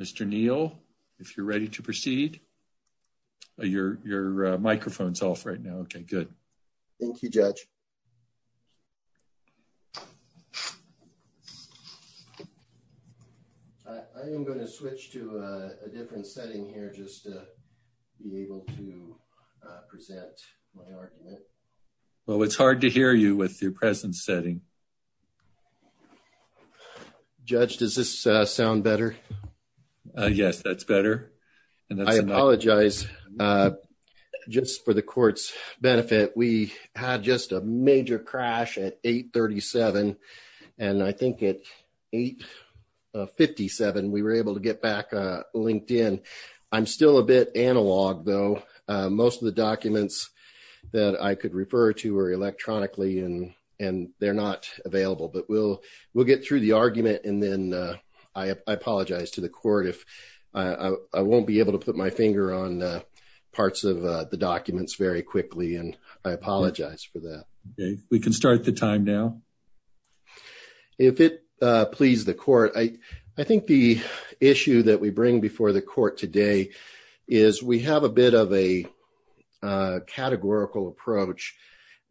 Mr. Neal, if you're ready to proceed. Your microphone's off right now. Okay, good. Thank you, Judge. I am going to switch to a different setting here just to be able to present my argument. Well, it's hard to hear you with your present setting. Judge, does this sound better? Yes, that's better. I apologize just for the court's benefit. We had just a major crash at 8.37 and I think at 8.57 we were able to get back LinkedIn. I'm still a bit analog though. Most of the documents that I could refer to were electronically and they're not available. But we'll get through the argument and then I apologize to the court if I won't be able to put my finger on parts of the documents very quickly and I apologize for that. Okay, we can start the time now. If it please the court, I think the issue that we bring before the court today is we have a bit of a categorical approach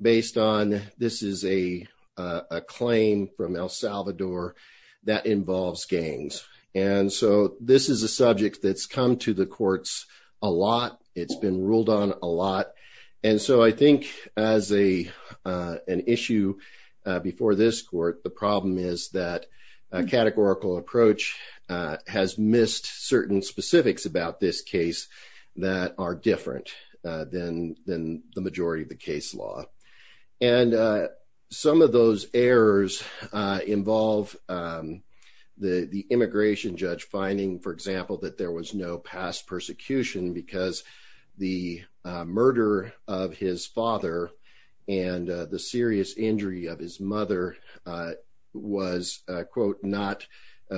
based on this is a claim from El Salvador that involves gangs. And so this is a subject that's come to the courts a lot. It's been ruled on a lot. And so I think as an issue before this court, the problem is that a categorical approach has missed certain specifics about this case that are different than the majority of the case law. And some of those errors involve the immigration judge finding, for example, that there was no past persecution because the murder of his father and the serious injury of his mother was, quote, not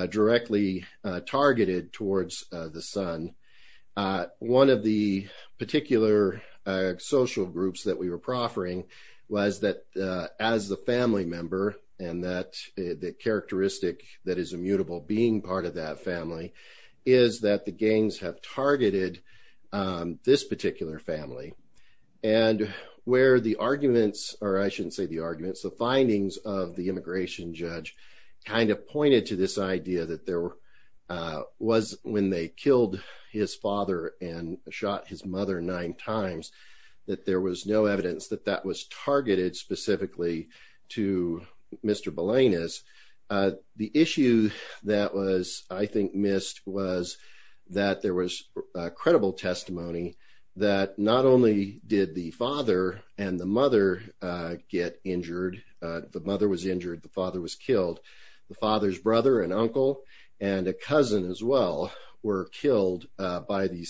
directly targeted towards the son. One of the particular social groups that we were proffering was that as the family member and that the characteristic that is immutable being part of that family is that the gangs have targeted this particular family. And where the arguments, or I shouldn't say the arguments, the findings of the immigration judge kind of pointed to this idea that there was, when they killed his father and shot his mother nine times, that there was no evidence that that was targeted specifically to Mr. Balenas. The issue that was, I think, missed was that there was a credible testimony that not only did the father and the mother get injured, the mother was injured, the father was killed, the father's brother and uncle and a cousin as well were killed by the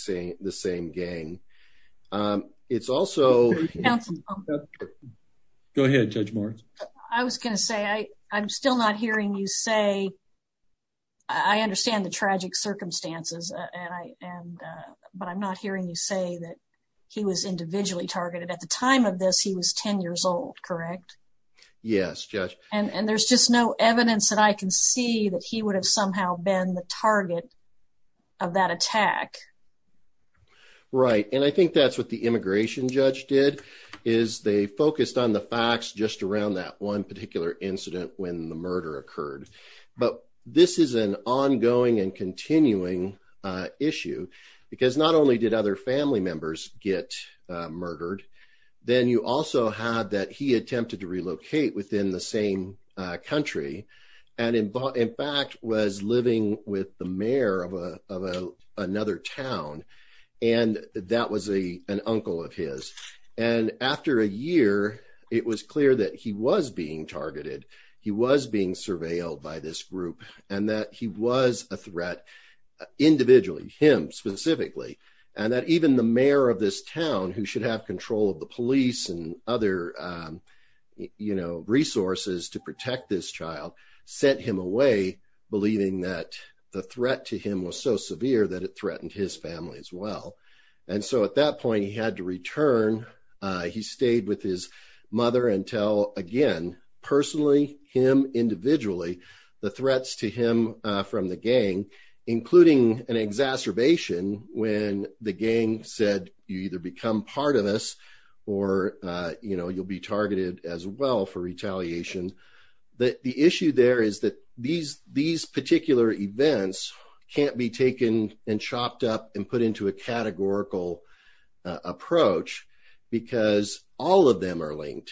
same gang. It's also- Go ahead, Judge Morris. I was going to say, I'm still not hearing you say, I understand the tragic circumstances, but I'm not hearing you say that he was individually targeted. At the time of this, he was 10 years old, correct? Yes, Judge. And there's just no evidence that I can see that he would have somehow been the target of that attack. Right. And I think that's what the immigration judge did, is they focused on the facts just around that one particular incident when the murder occurred. But this is an ongoing and he attempted to relocate within the same country and in fact was living with the mayor of another town and that was an uncle of his. And after a year, it was clear that he was being targeted. He was being surveilled by this group and that he was a threat individually, him specifically, and that even the mayor of this town, who should have control of the police and other resources to protect this child, sent him away believing that the threat to him was so severe that it threatened his family as well. And so at that point, he had to return. He stayed with his mother until, again, personally, him individually, the threats to him from the gang, including an exacerbation when the gang said, you either become part of us or you'll be targeted as well for retaliation. The issue there is that these particular events can't be taken and chopped up and put into a categorical approach because all of them are linked.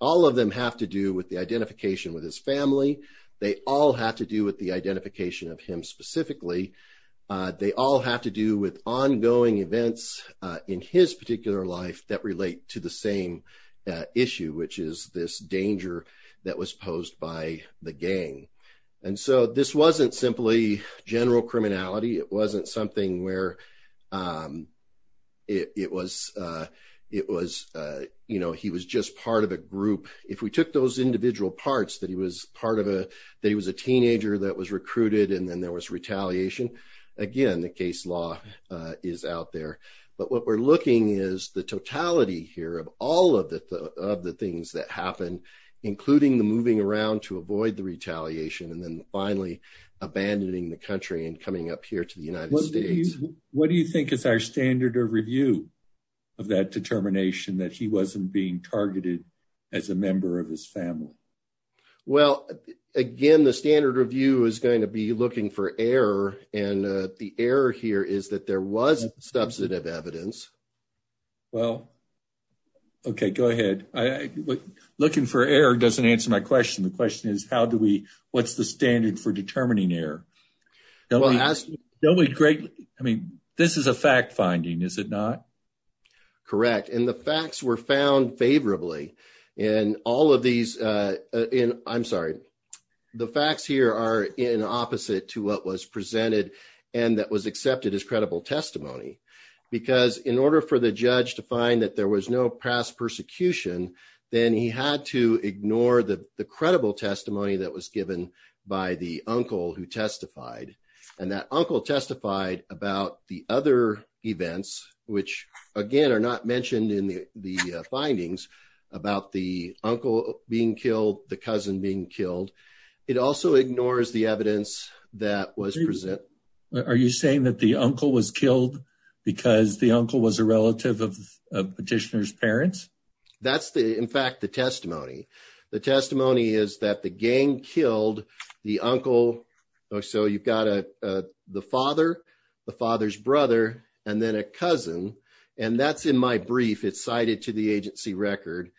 All of them have to do with the identification with his family. They all have to do with the identification of him specifically. They all have to do with ongoing events in his particular life that relate to the same issue, which is this danger that was posed by the gang. And so this wasn't simply general criminality. It wasn't something where it was, you know, he was just part of a group. If we took those individual parts that he was part of, that he was a teenager that was recruited and then there was retaliation, again, the case law is out there. But what we're looking at is the totality here of all of the things that happened, including the moving around to avoid the retaliation and then finally abandoning the country and coming up here to the United States. What do you think is our standard of review of that determination that he wasn't being targeted as a member of his family? Well, again, the standard review is going to be looking for error and the error here is that there was substantive evidence. Well, okay, go ahead. Looking for error doesn't answer my question. The question is how do we, what's the standard for determining error? I mean, this is a fact finding, is it not? Correct. And the facts were found favorably in all of these, I'm sorry, the facts here are in opposite to what was presented and that was accepted as credible testimony. Because in order for the judge to find that there was no past persecution, then he had to ignore the credible testimony that was given by the uncle who testified. And that uncle testified about the events, which again, are not mentioned in the findings about the uncle being killed, the cousin being killed. It also ignores the evidence that was present. Are you saying that the uncle was killed because the uncle was a relative of the petitioner's parents? That's the, in fact, the testimony. The testimony is that the gang killed the uncle. So you've got the father, the father's brother, and then a cousin. And that's in my brief, it's cited to the agency record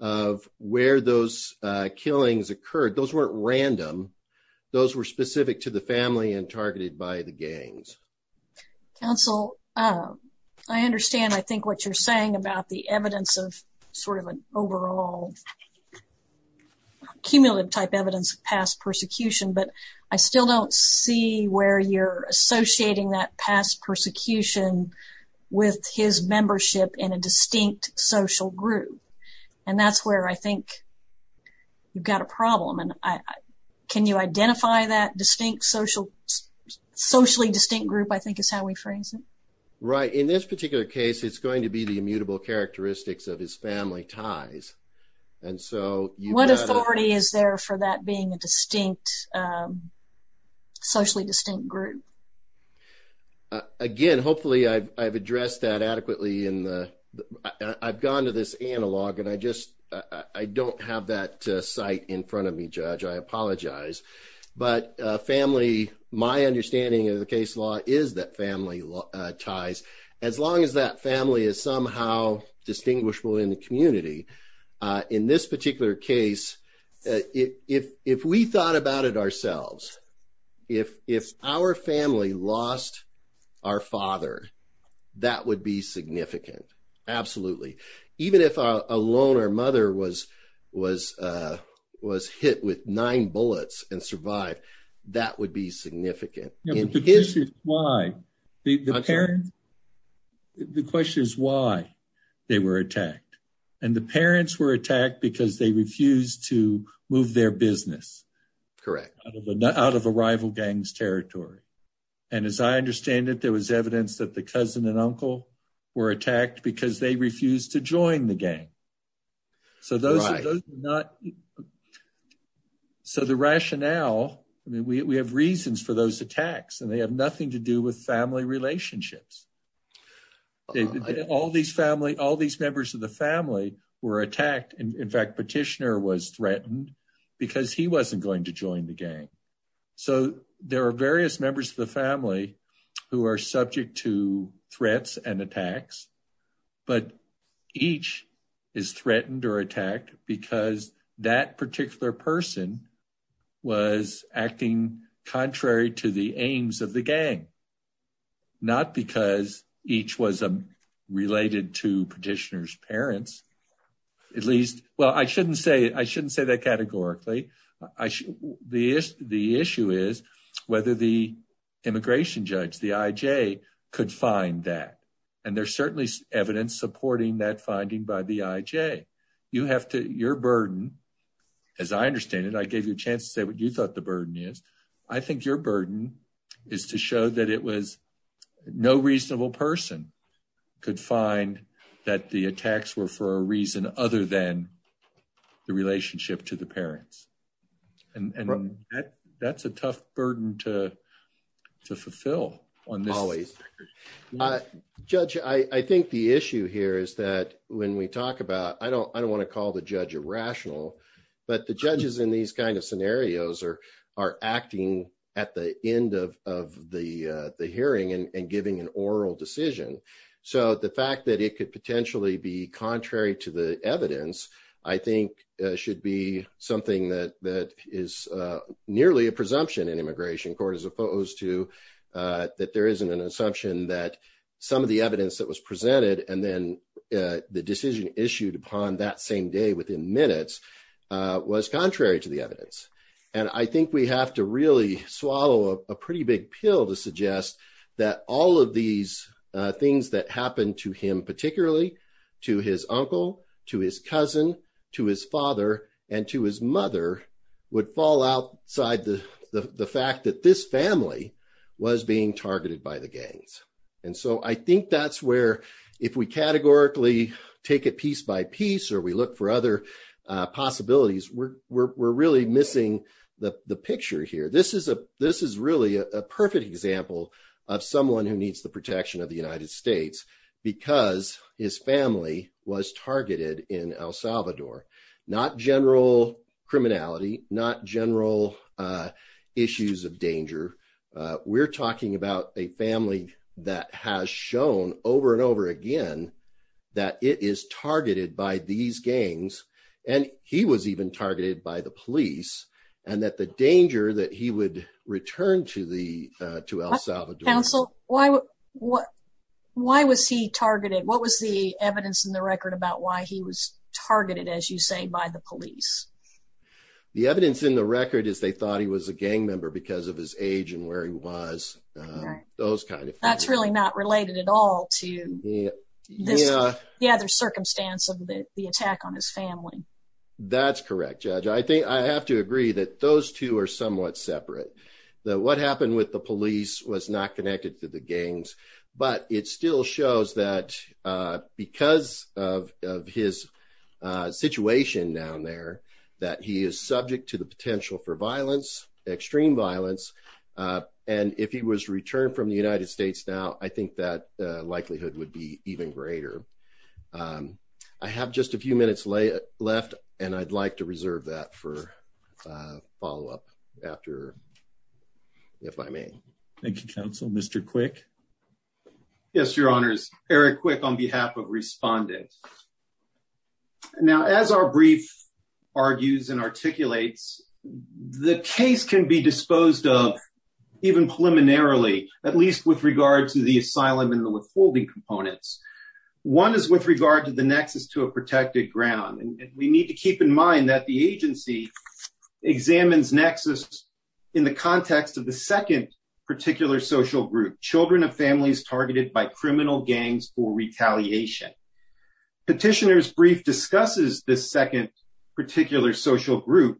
of where those killings occurred. Those weren't random. Those were specific to the family and targeted by the gangs. Counsel, I understand, I think what you're saying about the evidence of sort of an overall cumulative type evidence of past persecution, but I still don't see where you're associating that past persecution with his membership in a distinct social group. And that's where I think you've got a problem. And can you identify that distinct social, socially distinct group, I think is how we phrase it. Right. In this particular case, it's going to be the immutable characteristics of his family ties. What authority is there for that being a distinct, socially distinct group? Again, hopefully I've addressed that adequately in the, I've gone to this analog and I just, I don't have that sight in front of me, Judge. I apologize. But family, my understanding of the case law is that family ties, as long as that family is somehow distinguishable in the community. In this particular case, if we thought about it ourselves, if our family lost our father, that would be significant. Absolutely. Even if a loner mother was hit with nine bullets and survived, that would be significant. The question is why. The question is why they were attacked. And the parents were attacked because they refused to move their business. Correct. Out of a rival gang's territory. And as I understand it, there was evidence that the cousin and uncle were attacked because they refused to join the gang. So the rationale, I mean, we have reasons for those attacks and they have nothing to do with family relationships. All these family, all these members of the family were attacked. In fact, Petitioner was threatened because he wasn't going to join the gang. So there are various members of the family who are subject to threats and attacks, but each is threatened or attacked because that particular person was acting contrary to the aims of the gang. Not because each was related to Petitioner's parents. At least, well, I shouldn't say that categorically. The issue is whether the immigration judge, the IJ, could find that. And there's certainly evidence supporting that finding by the IJ. You have to, your burden, as I understand it, I gave you a chance to say what you thought the burden is. I think your burden is to show that it was no reasonable person could find that the attacks were for a reason other than the relationship to the parents. And that's a tough burden to fulfill on this. Always. Judge, I think the issue here is that when we talk about, I don't want to call the judge irrational, but the judges in these kind of scenarios are acting at the end of the hearing and giving an oral decision. So the fact that it could potentially be contrary to the evidence, I think should be something that is nearly a presumption in immigration court, as opposed to that there isn't an assumption that some of the decision issued upon that same day within minutes was contrary to the evidence. And I think we have to really swallow a pretty big pill to suggest that all of these things that happened to him, particularly to his uncle, to his cousin, to his father, and to his mother, would fall outside the fact that this family was being targeted by the gangs. And so I think that's where, if we categorically take it piece by piece, or we look for other possibilities, we're really missing the picture here. This is really a perfect example of someone who needs the protection of the United States because his family was targeted in El Salvador. Not general criminality, not general issues of danger. We're talking about a family that has shown over and over again that it is targeted by these gangs, and he was even targeted by the police, and that the danger that he would return to El Salvador. Counsel, why was he targeted? What was the evidence in the record about why he was targeted, as you say, by the police? The evidence in the record is they thought he was a gang member because of his age and where he was, those kind of things. That's really not related at all to the other circumstance of the attack on his family. That's correct, Judge. I think I have to agree that those two are somewhat separate. That what happened with the police was not connected to the gangs, but it still shows that because of his situation down there, that he is subject to the potential for violence, extreme violence. If he was returned from the United States now, I think that likelihood would be even greater. I have just a few minutes left, and I'd like to reserve that for follow-up after, if I may. Thank you, Counsel. Mr. Quick? Yes, Your Honors. Eric Quick on behalf of respondents. Now, as our brief argues and articulates, the case can be disposed of even preliminarily, at least with regard to the asylum and the withholding components. One is with regard to the nexus to a protected ground. We need to keep in mind that the agency examines nexus in the context of the second particular social group, children of families targeted by criminal gangs for retaliation. Petitioner's brief discusses this second particular social group,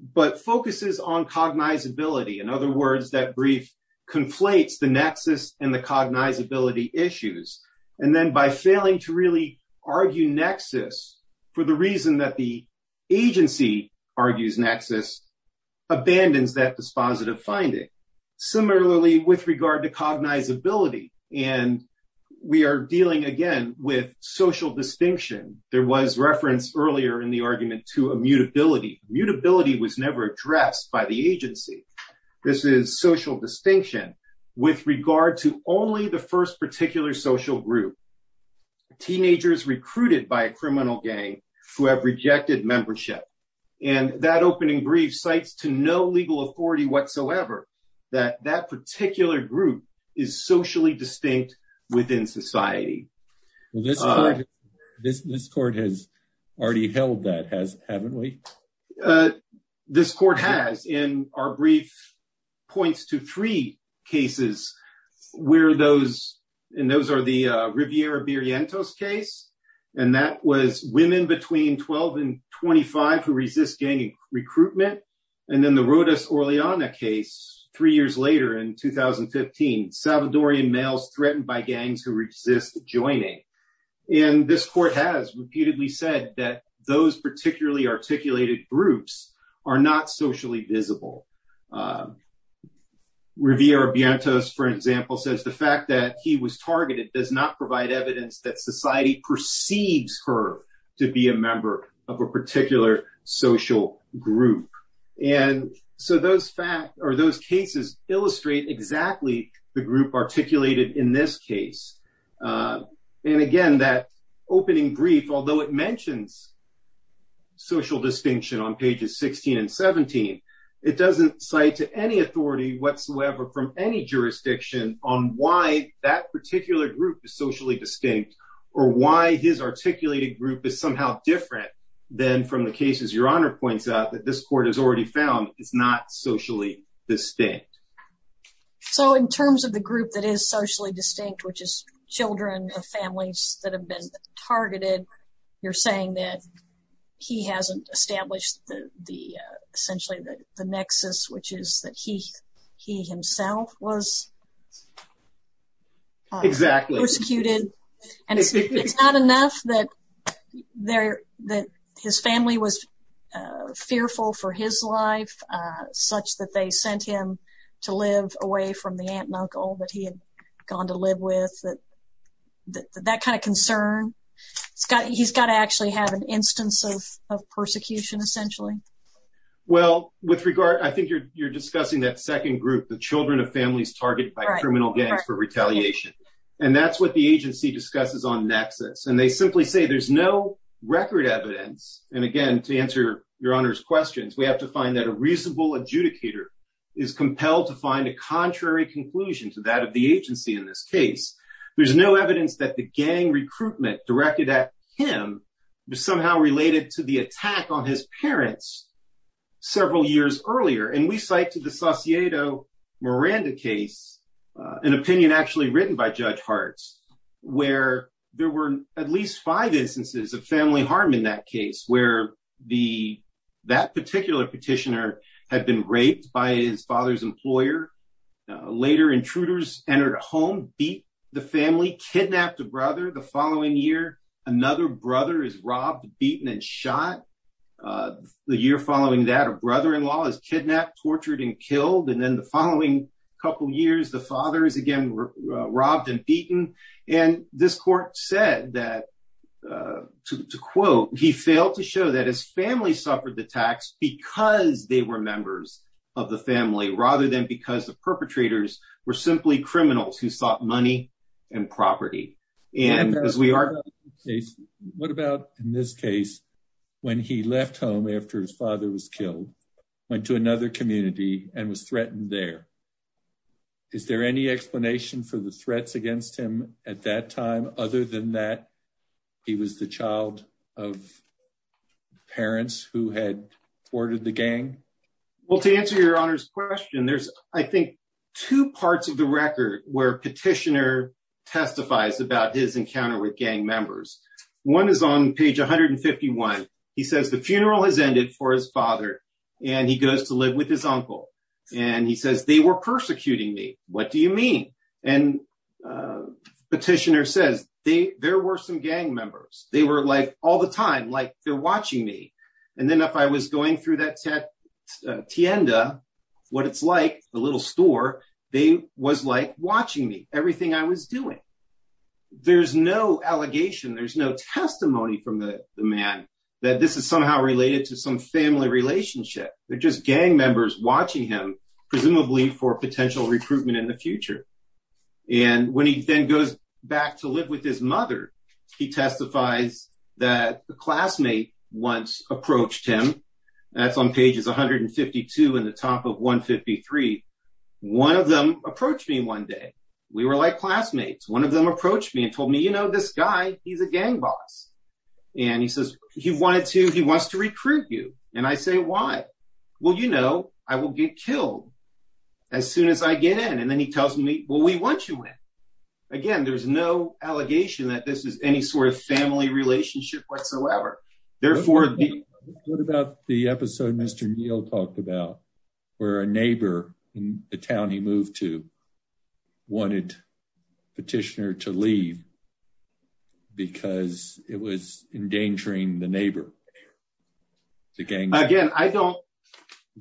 but focuses on cognizability. In other words, that brief conflates the nexus and the cognizability issues. And then by failing to really argue nexus for the reason that the agency argues nexus, abandons that dispositive finding. Similarly, with regard to cognizability and we are dealing again with social distinction. There was reference earlier in the argument to immutability. Immutability was never addressed by the agency. This is social distinction. With regard to only the first particular social group, teenagers recruited by a criminal gang who have rejected membership. And that opening brief cites to no legal authority whatsoever that that particular group is socially distinct within society. Well, this court has already held that, haven't we? This court has. And our brief points to three cases where those, and those are the Riviera Berrientos case. And that was women between 12 and 25 who resist gang recruitment. And then the Rodas case three years later in 2015, Salvadorian males threatened by gangs who resist joining. And this court has repeatedly said that those particularly articulated groups are not socially visible. Riviera Berrientos, for example, says the fact that he was targeted does not provide or those cases illustrate exactly the group articulated in this case. And again, that opening brief, although it mentions social distinction on pages 16 and 17, it doesn't cite to any authority whatsoever from any jurisdiction on why that particular group is socially distinct or why his articulated group is somehow different than from the cases your distinct. So in terms of the group that is socially distinct, which is children of families that have been targeted, you're saying that he hasn't established the, the essentially the nexus, which is that he, he himself was executed. And it's not enough that there that his family was fearful for his life, such that they sent him to live away from the aunt and uncle that he had gone to live with that, that, that kind of concern. He's got, he's got to actually have an instance of, of persecution essentially. Well, with regard, I think you're, you're discussing that second group, the children of families targeted by criminal gangs for retaliation. And that's what the agency discusses on nexus. And they simply say there's no record evidence. And again, to answer your honor's questions, we have to find that a reasonable adjudicator is compelled to find a contrary conclusion to that of the agency. In this case, there's no evidence that the gang recruitment directed at him was somehow related to the attack on his parents several years earlier. And we cite to the Sauciedo Miranda case, an opinion actually written by Judge Hartz, where there were at least five instances of family harm in that case, where the, that particular petitioner had been raped by his father's employer. Later intruders entered a home, beat the family, kidnapped a brother. The following year, another brother is robbed, beaten, and shot. The year following that, a brother-in-law is father is again, robbed and beaten. And this court said that, to quote, he failed to show that his family suffered the tax because they were members of the family, rather than because the perpetrators were simply criminals who sought money and property. What about in this case, when he left home after his father was killed, went to another community and was threatened there. Is there any explanation for the threats against him at that time? Other than that, he was the child of parents who had ordered the gang? Well, to answer your honor's question, there's, I think, two parts of the record where petitioner testifies about his encounter with gang members. One is on page 151. He says the funeral has ended for his father. And he goes to live with his uncle. And he says, they were persecuting me. What do you mean? And petitioner says, there were some gang members. They were like all the time, like they're watching me. And then if I was going through that tienda, what it's like, the little store, they was like watching me, everything I was doing. There's no allegation, there's no testimony from the man that this is somehow related to some family relationship. They're just gang members watching him, presumably for potential recruitment in the future. And when he then goes back to live with his mother, he testifies that the classmate once approached him. That's on pages 152 and the top of 153. One of them approached me one day. We were classmates. One of them approached me and told me, you know, this guy, he's a gang boss. And he says, he wanted to, he wants to recruit you. And I say, why? Well, you know, I will get killed as soon as I get in. And then he tells me, well, we want you in. Again, there's no allegation that this is any sort of family relationship whatsoever. Therefore, what about the episode Mr. Neal talked about, where a neighbor in the town he moved to wanted petitioner to leave because it was endangering the neighbor, the gang? Again, I don't,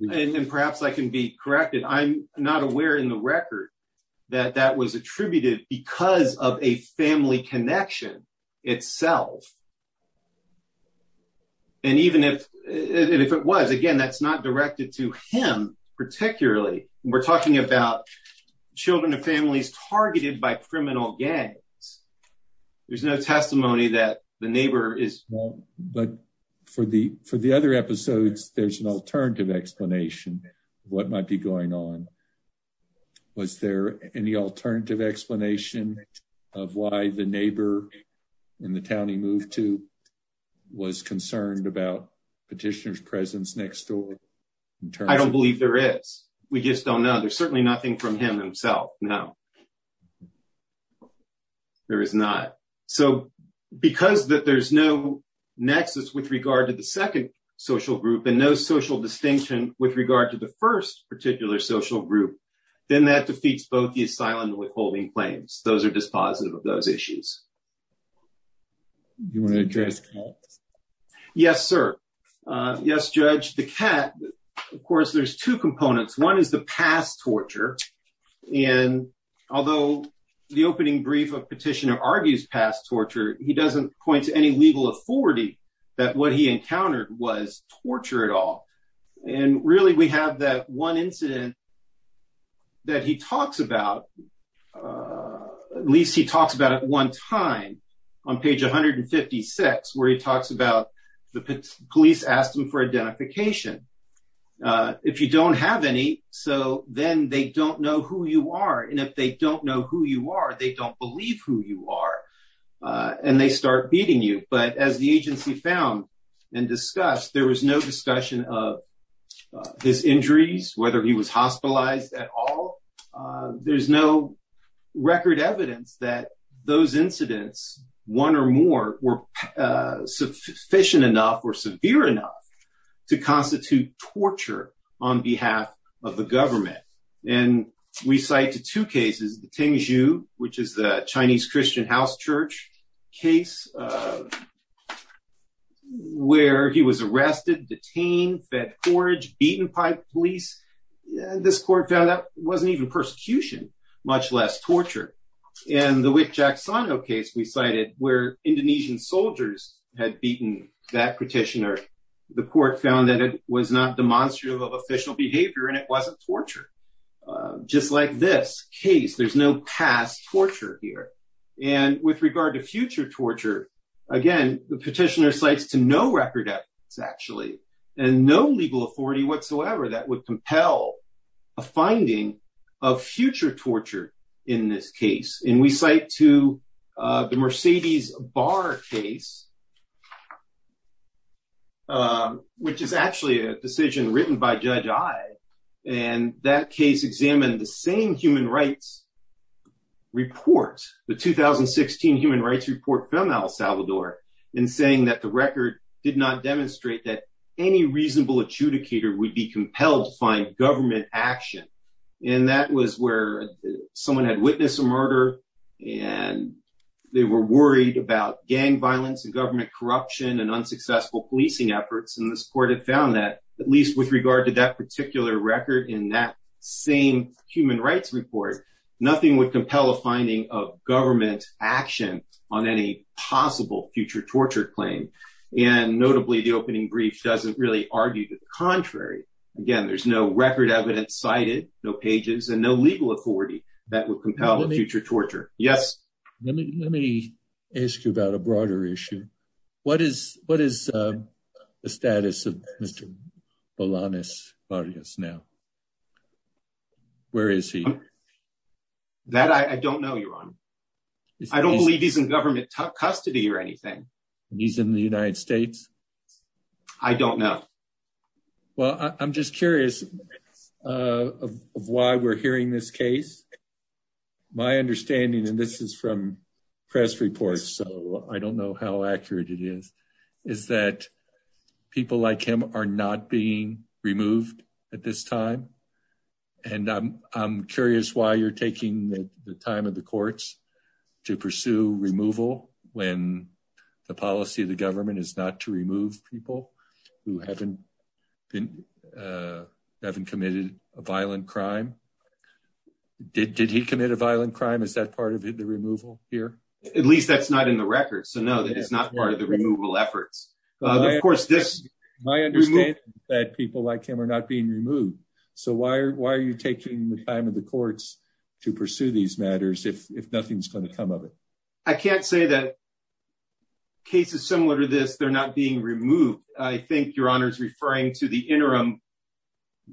and perhaps I can be corrected. I'm not aware in the record that that was attributed because of a family connection itself. And even if, and if it was, again, that's not directed to him particularly. We're talking about children and families targeted by criminal gangs. There's no testimony that the neighbor is. But for the, for the other episodes, there's an alternative explanation what might be going on. Was there any alternative explanation of why the neighbor in the town he moved to was concerned about petitioner's presence next door? I don't believe there is. We just don't know. There's certainly nothing from him himself. No, there is not. So because that there's no nexus with regard to the second social group and no social distinction with regard to the first particular social group, then that defeats both the asylum and withholding claims. Those are dispositive of those issues. Do you want to address that? Yes, sir. Yes, Judge. The cat, of course, there's two components. One is the past torture. And although the opening brief of petitioner argues past torture, he doesn't point to any legal authority that what he encountered was torture at all. And really we have that one incident that he talks about, at least he talks about at one time on page 156, where he talks about the police asked him for identification. If you don't have any, so then they don't know who you are. And if they don't know who you are, they don't believe who you are and they start beating you. But as the agency found and discussed, there was no discussion of his injuries, whether he was hospitalized at all. There's no record evidence that those incidents, one or more, were sufficient enough or severe enough to constitute torture on behalf of the government. And we cite two cases, the Tingzhu, which is the Chinese Christian house church case, where he was arrested, detained, fed police. This court found that wasn't even persecution, much less torture. And the Wick-Jacksono case we cited, where Indonesian soldiers had beaten that petitioner, the court found that it was not demonstrative of official behavior and it wasn't torture. Just like this case, there's no past torture here. And with regard to future torture, again, the petitioner to no record evidence, actually, and no legal authority whatsoever that would compel a finding of future torture in this case. And we cite to the Mercedes Bar case, which is actually a decision written by Judge Ai. And that case examined the same human rights report, the 2016 human rights report from El Salvador, in saying that the record did not demonstrate that any reasonable adjudicator would be compelled to find government action. And that was where someone had witnessed a murder and they were worried about gang violence and government corruption and unsuccessful policing efforts. And this court had found that, at least with regard to that particular record in that same human rights report, nothing would compel a finding of government action on any possible future torture claim. And notably, the opening brief doesn't really argue the contrary. Again, there's no record evidence cited, no pages, and no legal authority that would compel future torture. Yes? Let me ask you about a broader issue. What is the status of Mr. Bolaños Barrios now? Where is he? That I don't know, Your Honor. I don't believe he's in government custody or anything. And he's in the United States? I don't know. Well, I'm just curious of why we're hearing this case. My understanding, and this is from press reports, so I don't know how accurate it is, is that people like him are not being removed at this time. And I'm curious why you're taking the time of the courts to pursue removal when the policy of the government is not to remove people who haven't committed a violent crime. Did he commit a violent crime? Is that part of the removal here? At least that's not in the record. So no, that is not part of the removal efforts. Of course, this... My understanding is that people like him are not being removed. So why are you taking the time of the courts to pursue these matters if nothing's going to come of it? I can't say that cases similar to this, they're not being removed. I think Your Honor is referring to the interim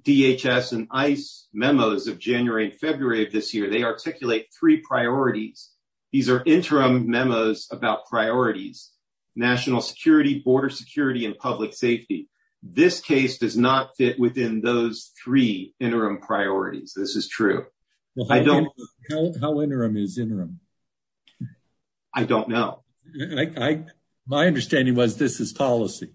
DHS and ICE memos of January and February of this year. They articulate three priorities. These are interim memos about priorities, national security, border security, and public safety. This case does not fit within those three interim priorities. This is true. How interim is interim? I don't know. My understanding was this is policy.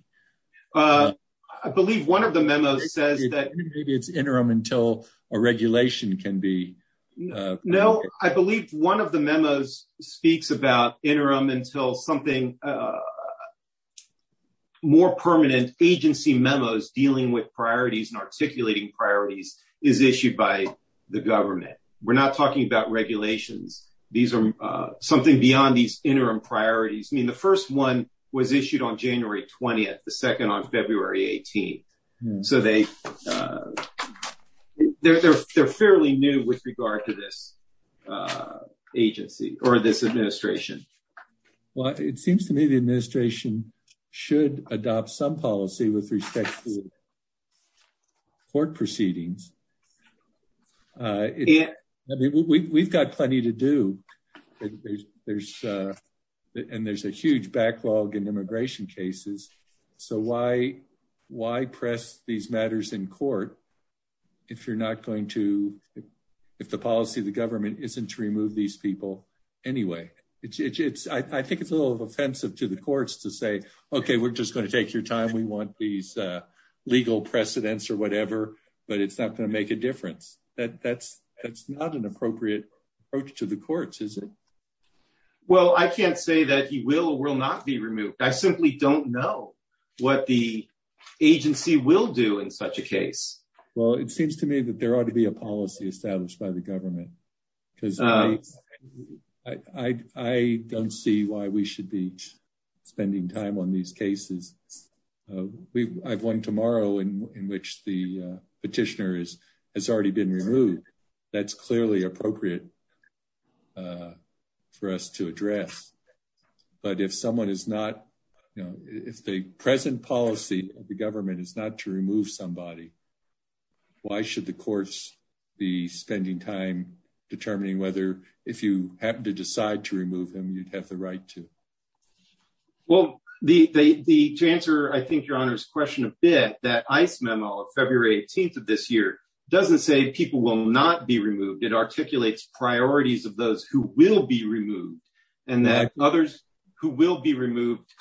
I believe one of the memos says that maybe it's interim until a regulation can be... No, I believe one of the memos speaks about interim until something... more permanent agency memos dealing with priorities and articulating priorities is issued by the government. We're not talking about regulations. These are something beyond these interim priorities. I mean, the first one was issued on January 20th, the second on February 18th. So they're fairly new with regard to this agency or this administration. Well, it seems to me the administration should adopt some policy with respect to proceedings. We've got plenty to do. There's a huge backlog in immigration cases. So why press these matters in court if you're not going to... if the policy of the government isn't to remove these people anyway? I think it's a little offensive to the courts to say, okay, we're just going to take your time. We want these legal precedents or whatever, but it's not going to make a difference. That's not an appropriate approach to the courts, is it? Well, I can't say that he will or will not be removed. I simply don't know what the agency will do in such a case. Well, it seems to me that there ought to be a policy established by the government because I don't see why we should be spending time on these cases. I've one tomorrow in which the petitioner has already been removed. That's clearly appropriate for us to address. But if someone is not... if the present policy of the government is not to remove somebody, why should the courts be spending time determining whether if you happen to decide to remove him, you'd have the right to? Well, to answer, I think, your Honor's question a bit, that ICE memo of February 18th of this year doesn't say people will not be removed. It articulates priorities of those who will be removed and that others who will be removed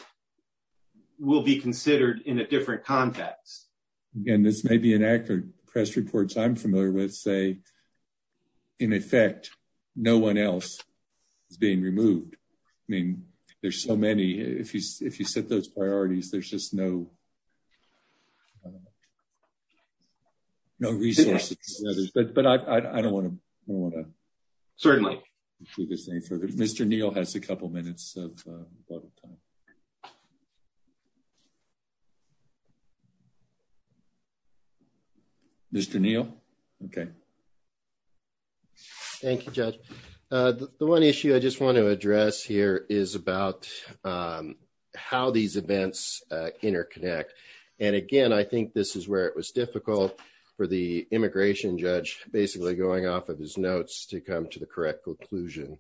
will be considered in a different context. Again, this may be an actor. Press reports I'm familiar with say, in effect, no one else is being removed. I mean, there's so many. If you set those priorities, there's just no resources. But I don't want to... Certainly. Let's move this thing further. Mr. Neal has a couple minutes of time. Mr. Neal? Okay. Thank you, Judge. The one issue I just want to address here is about how these events interconnect. And again, I think this is where it was difficult for the immigration judge, basically, going off of his notes to come to the correct conclusion.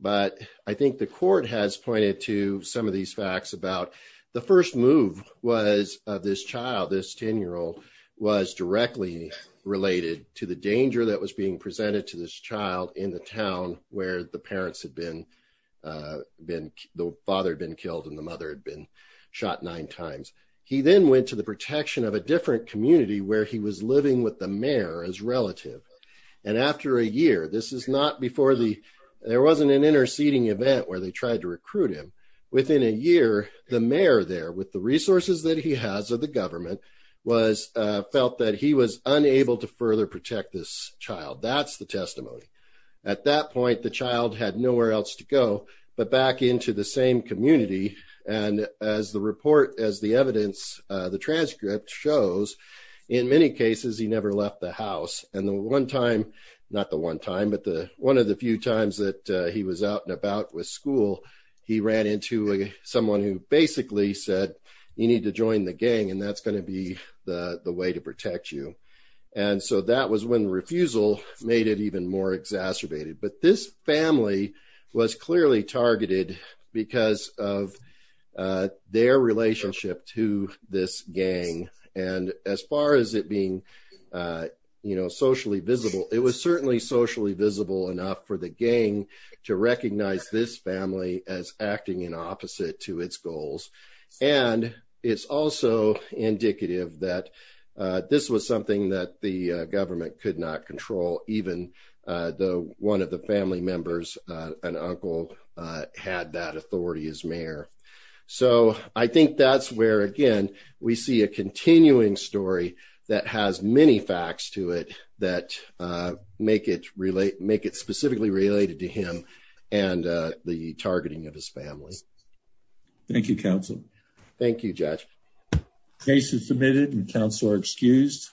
But I think the court has pointed to some of these facts about the first move was of this child, this 10-year-old, was directly related to the danger that was being presented to this child in the town where the parents had been... The father had been killed and the mother had been shot nine times. He then went to the protection of a different community where he was living with a mayor as relative. And after a year, this is not before the... There wasn't an interceding event where they tried to recruit him. Within a year, the mayor there, with the resources that he has of the government, felt that he was unable to further protect this child. That's the testimony. At that point, the child had nowhere else to go but back into the same community. And as the report, as the evidence, the transcript shows, in many cases, he never left the house. And the one time, not the one time, but one of the few times that he was out and about with school, he ran into someone who basically said, you need to join the gang and that's going to be the way to protect you. And so that was when refusal made it even more exacerbated. But this family was clearly targeted because of their relationship to this gang. And as far as it being, you know, socially visible, it was certainly socially visible enough for the gang to recognize this family as acting in opposite to its goals. And it's also indicative that this was something that the government could not control. Even one of the family members, an uncle, had that authority as mayor. So I think that's where, again, we see a continuing story that has many facts to it that make it specifically related to him and the targeting of his family. Thank you, counsel. Thank you, judge. Case is submitted and counsel are excused.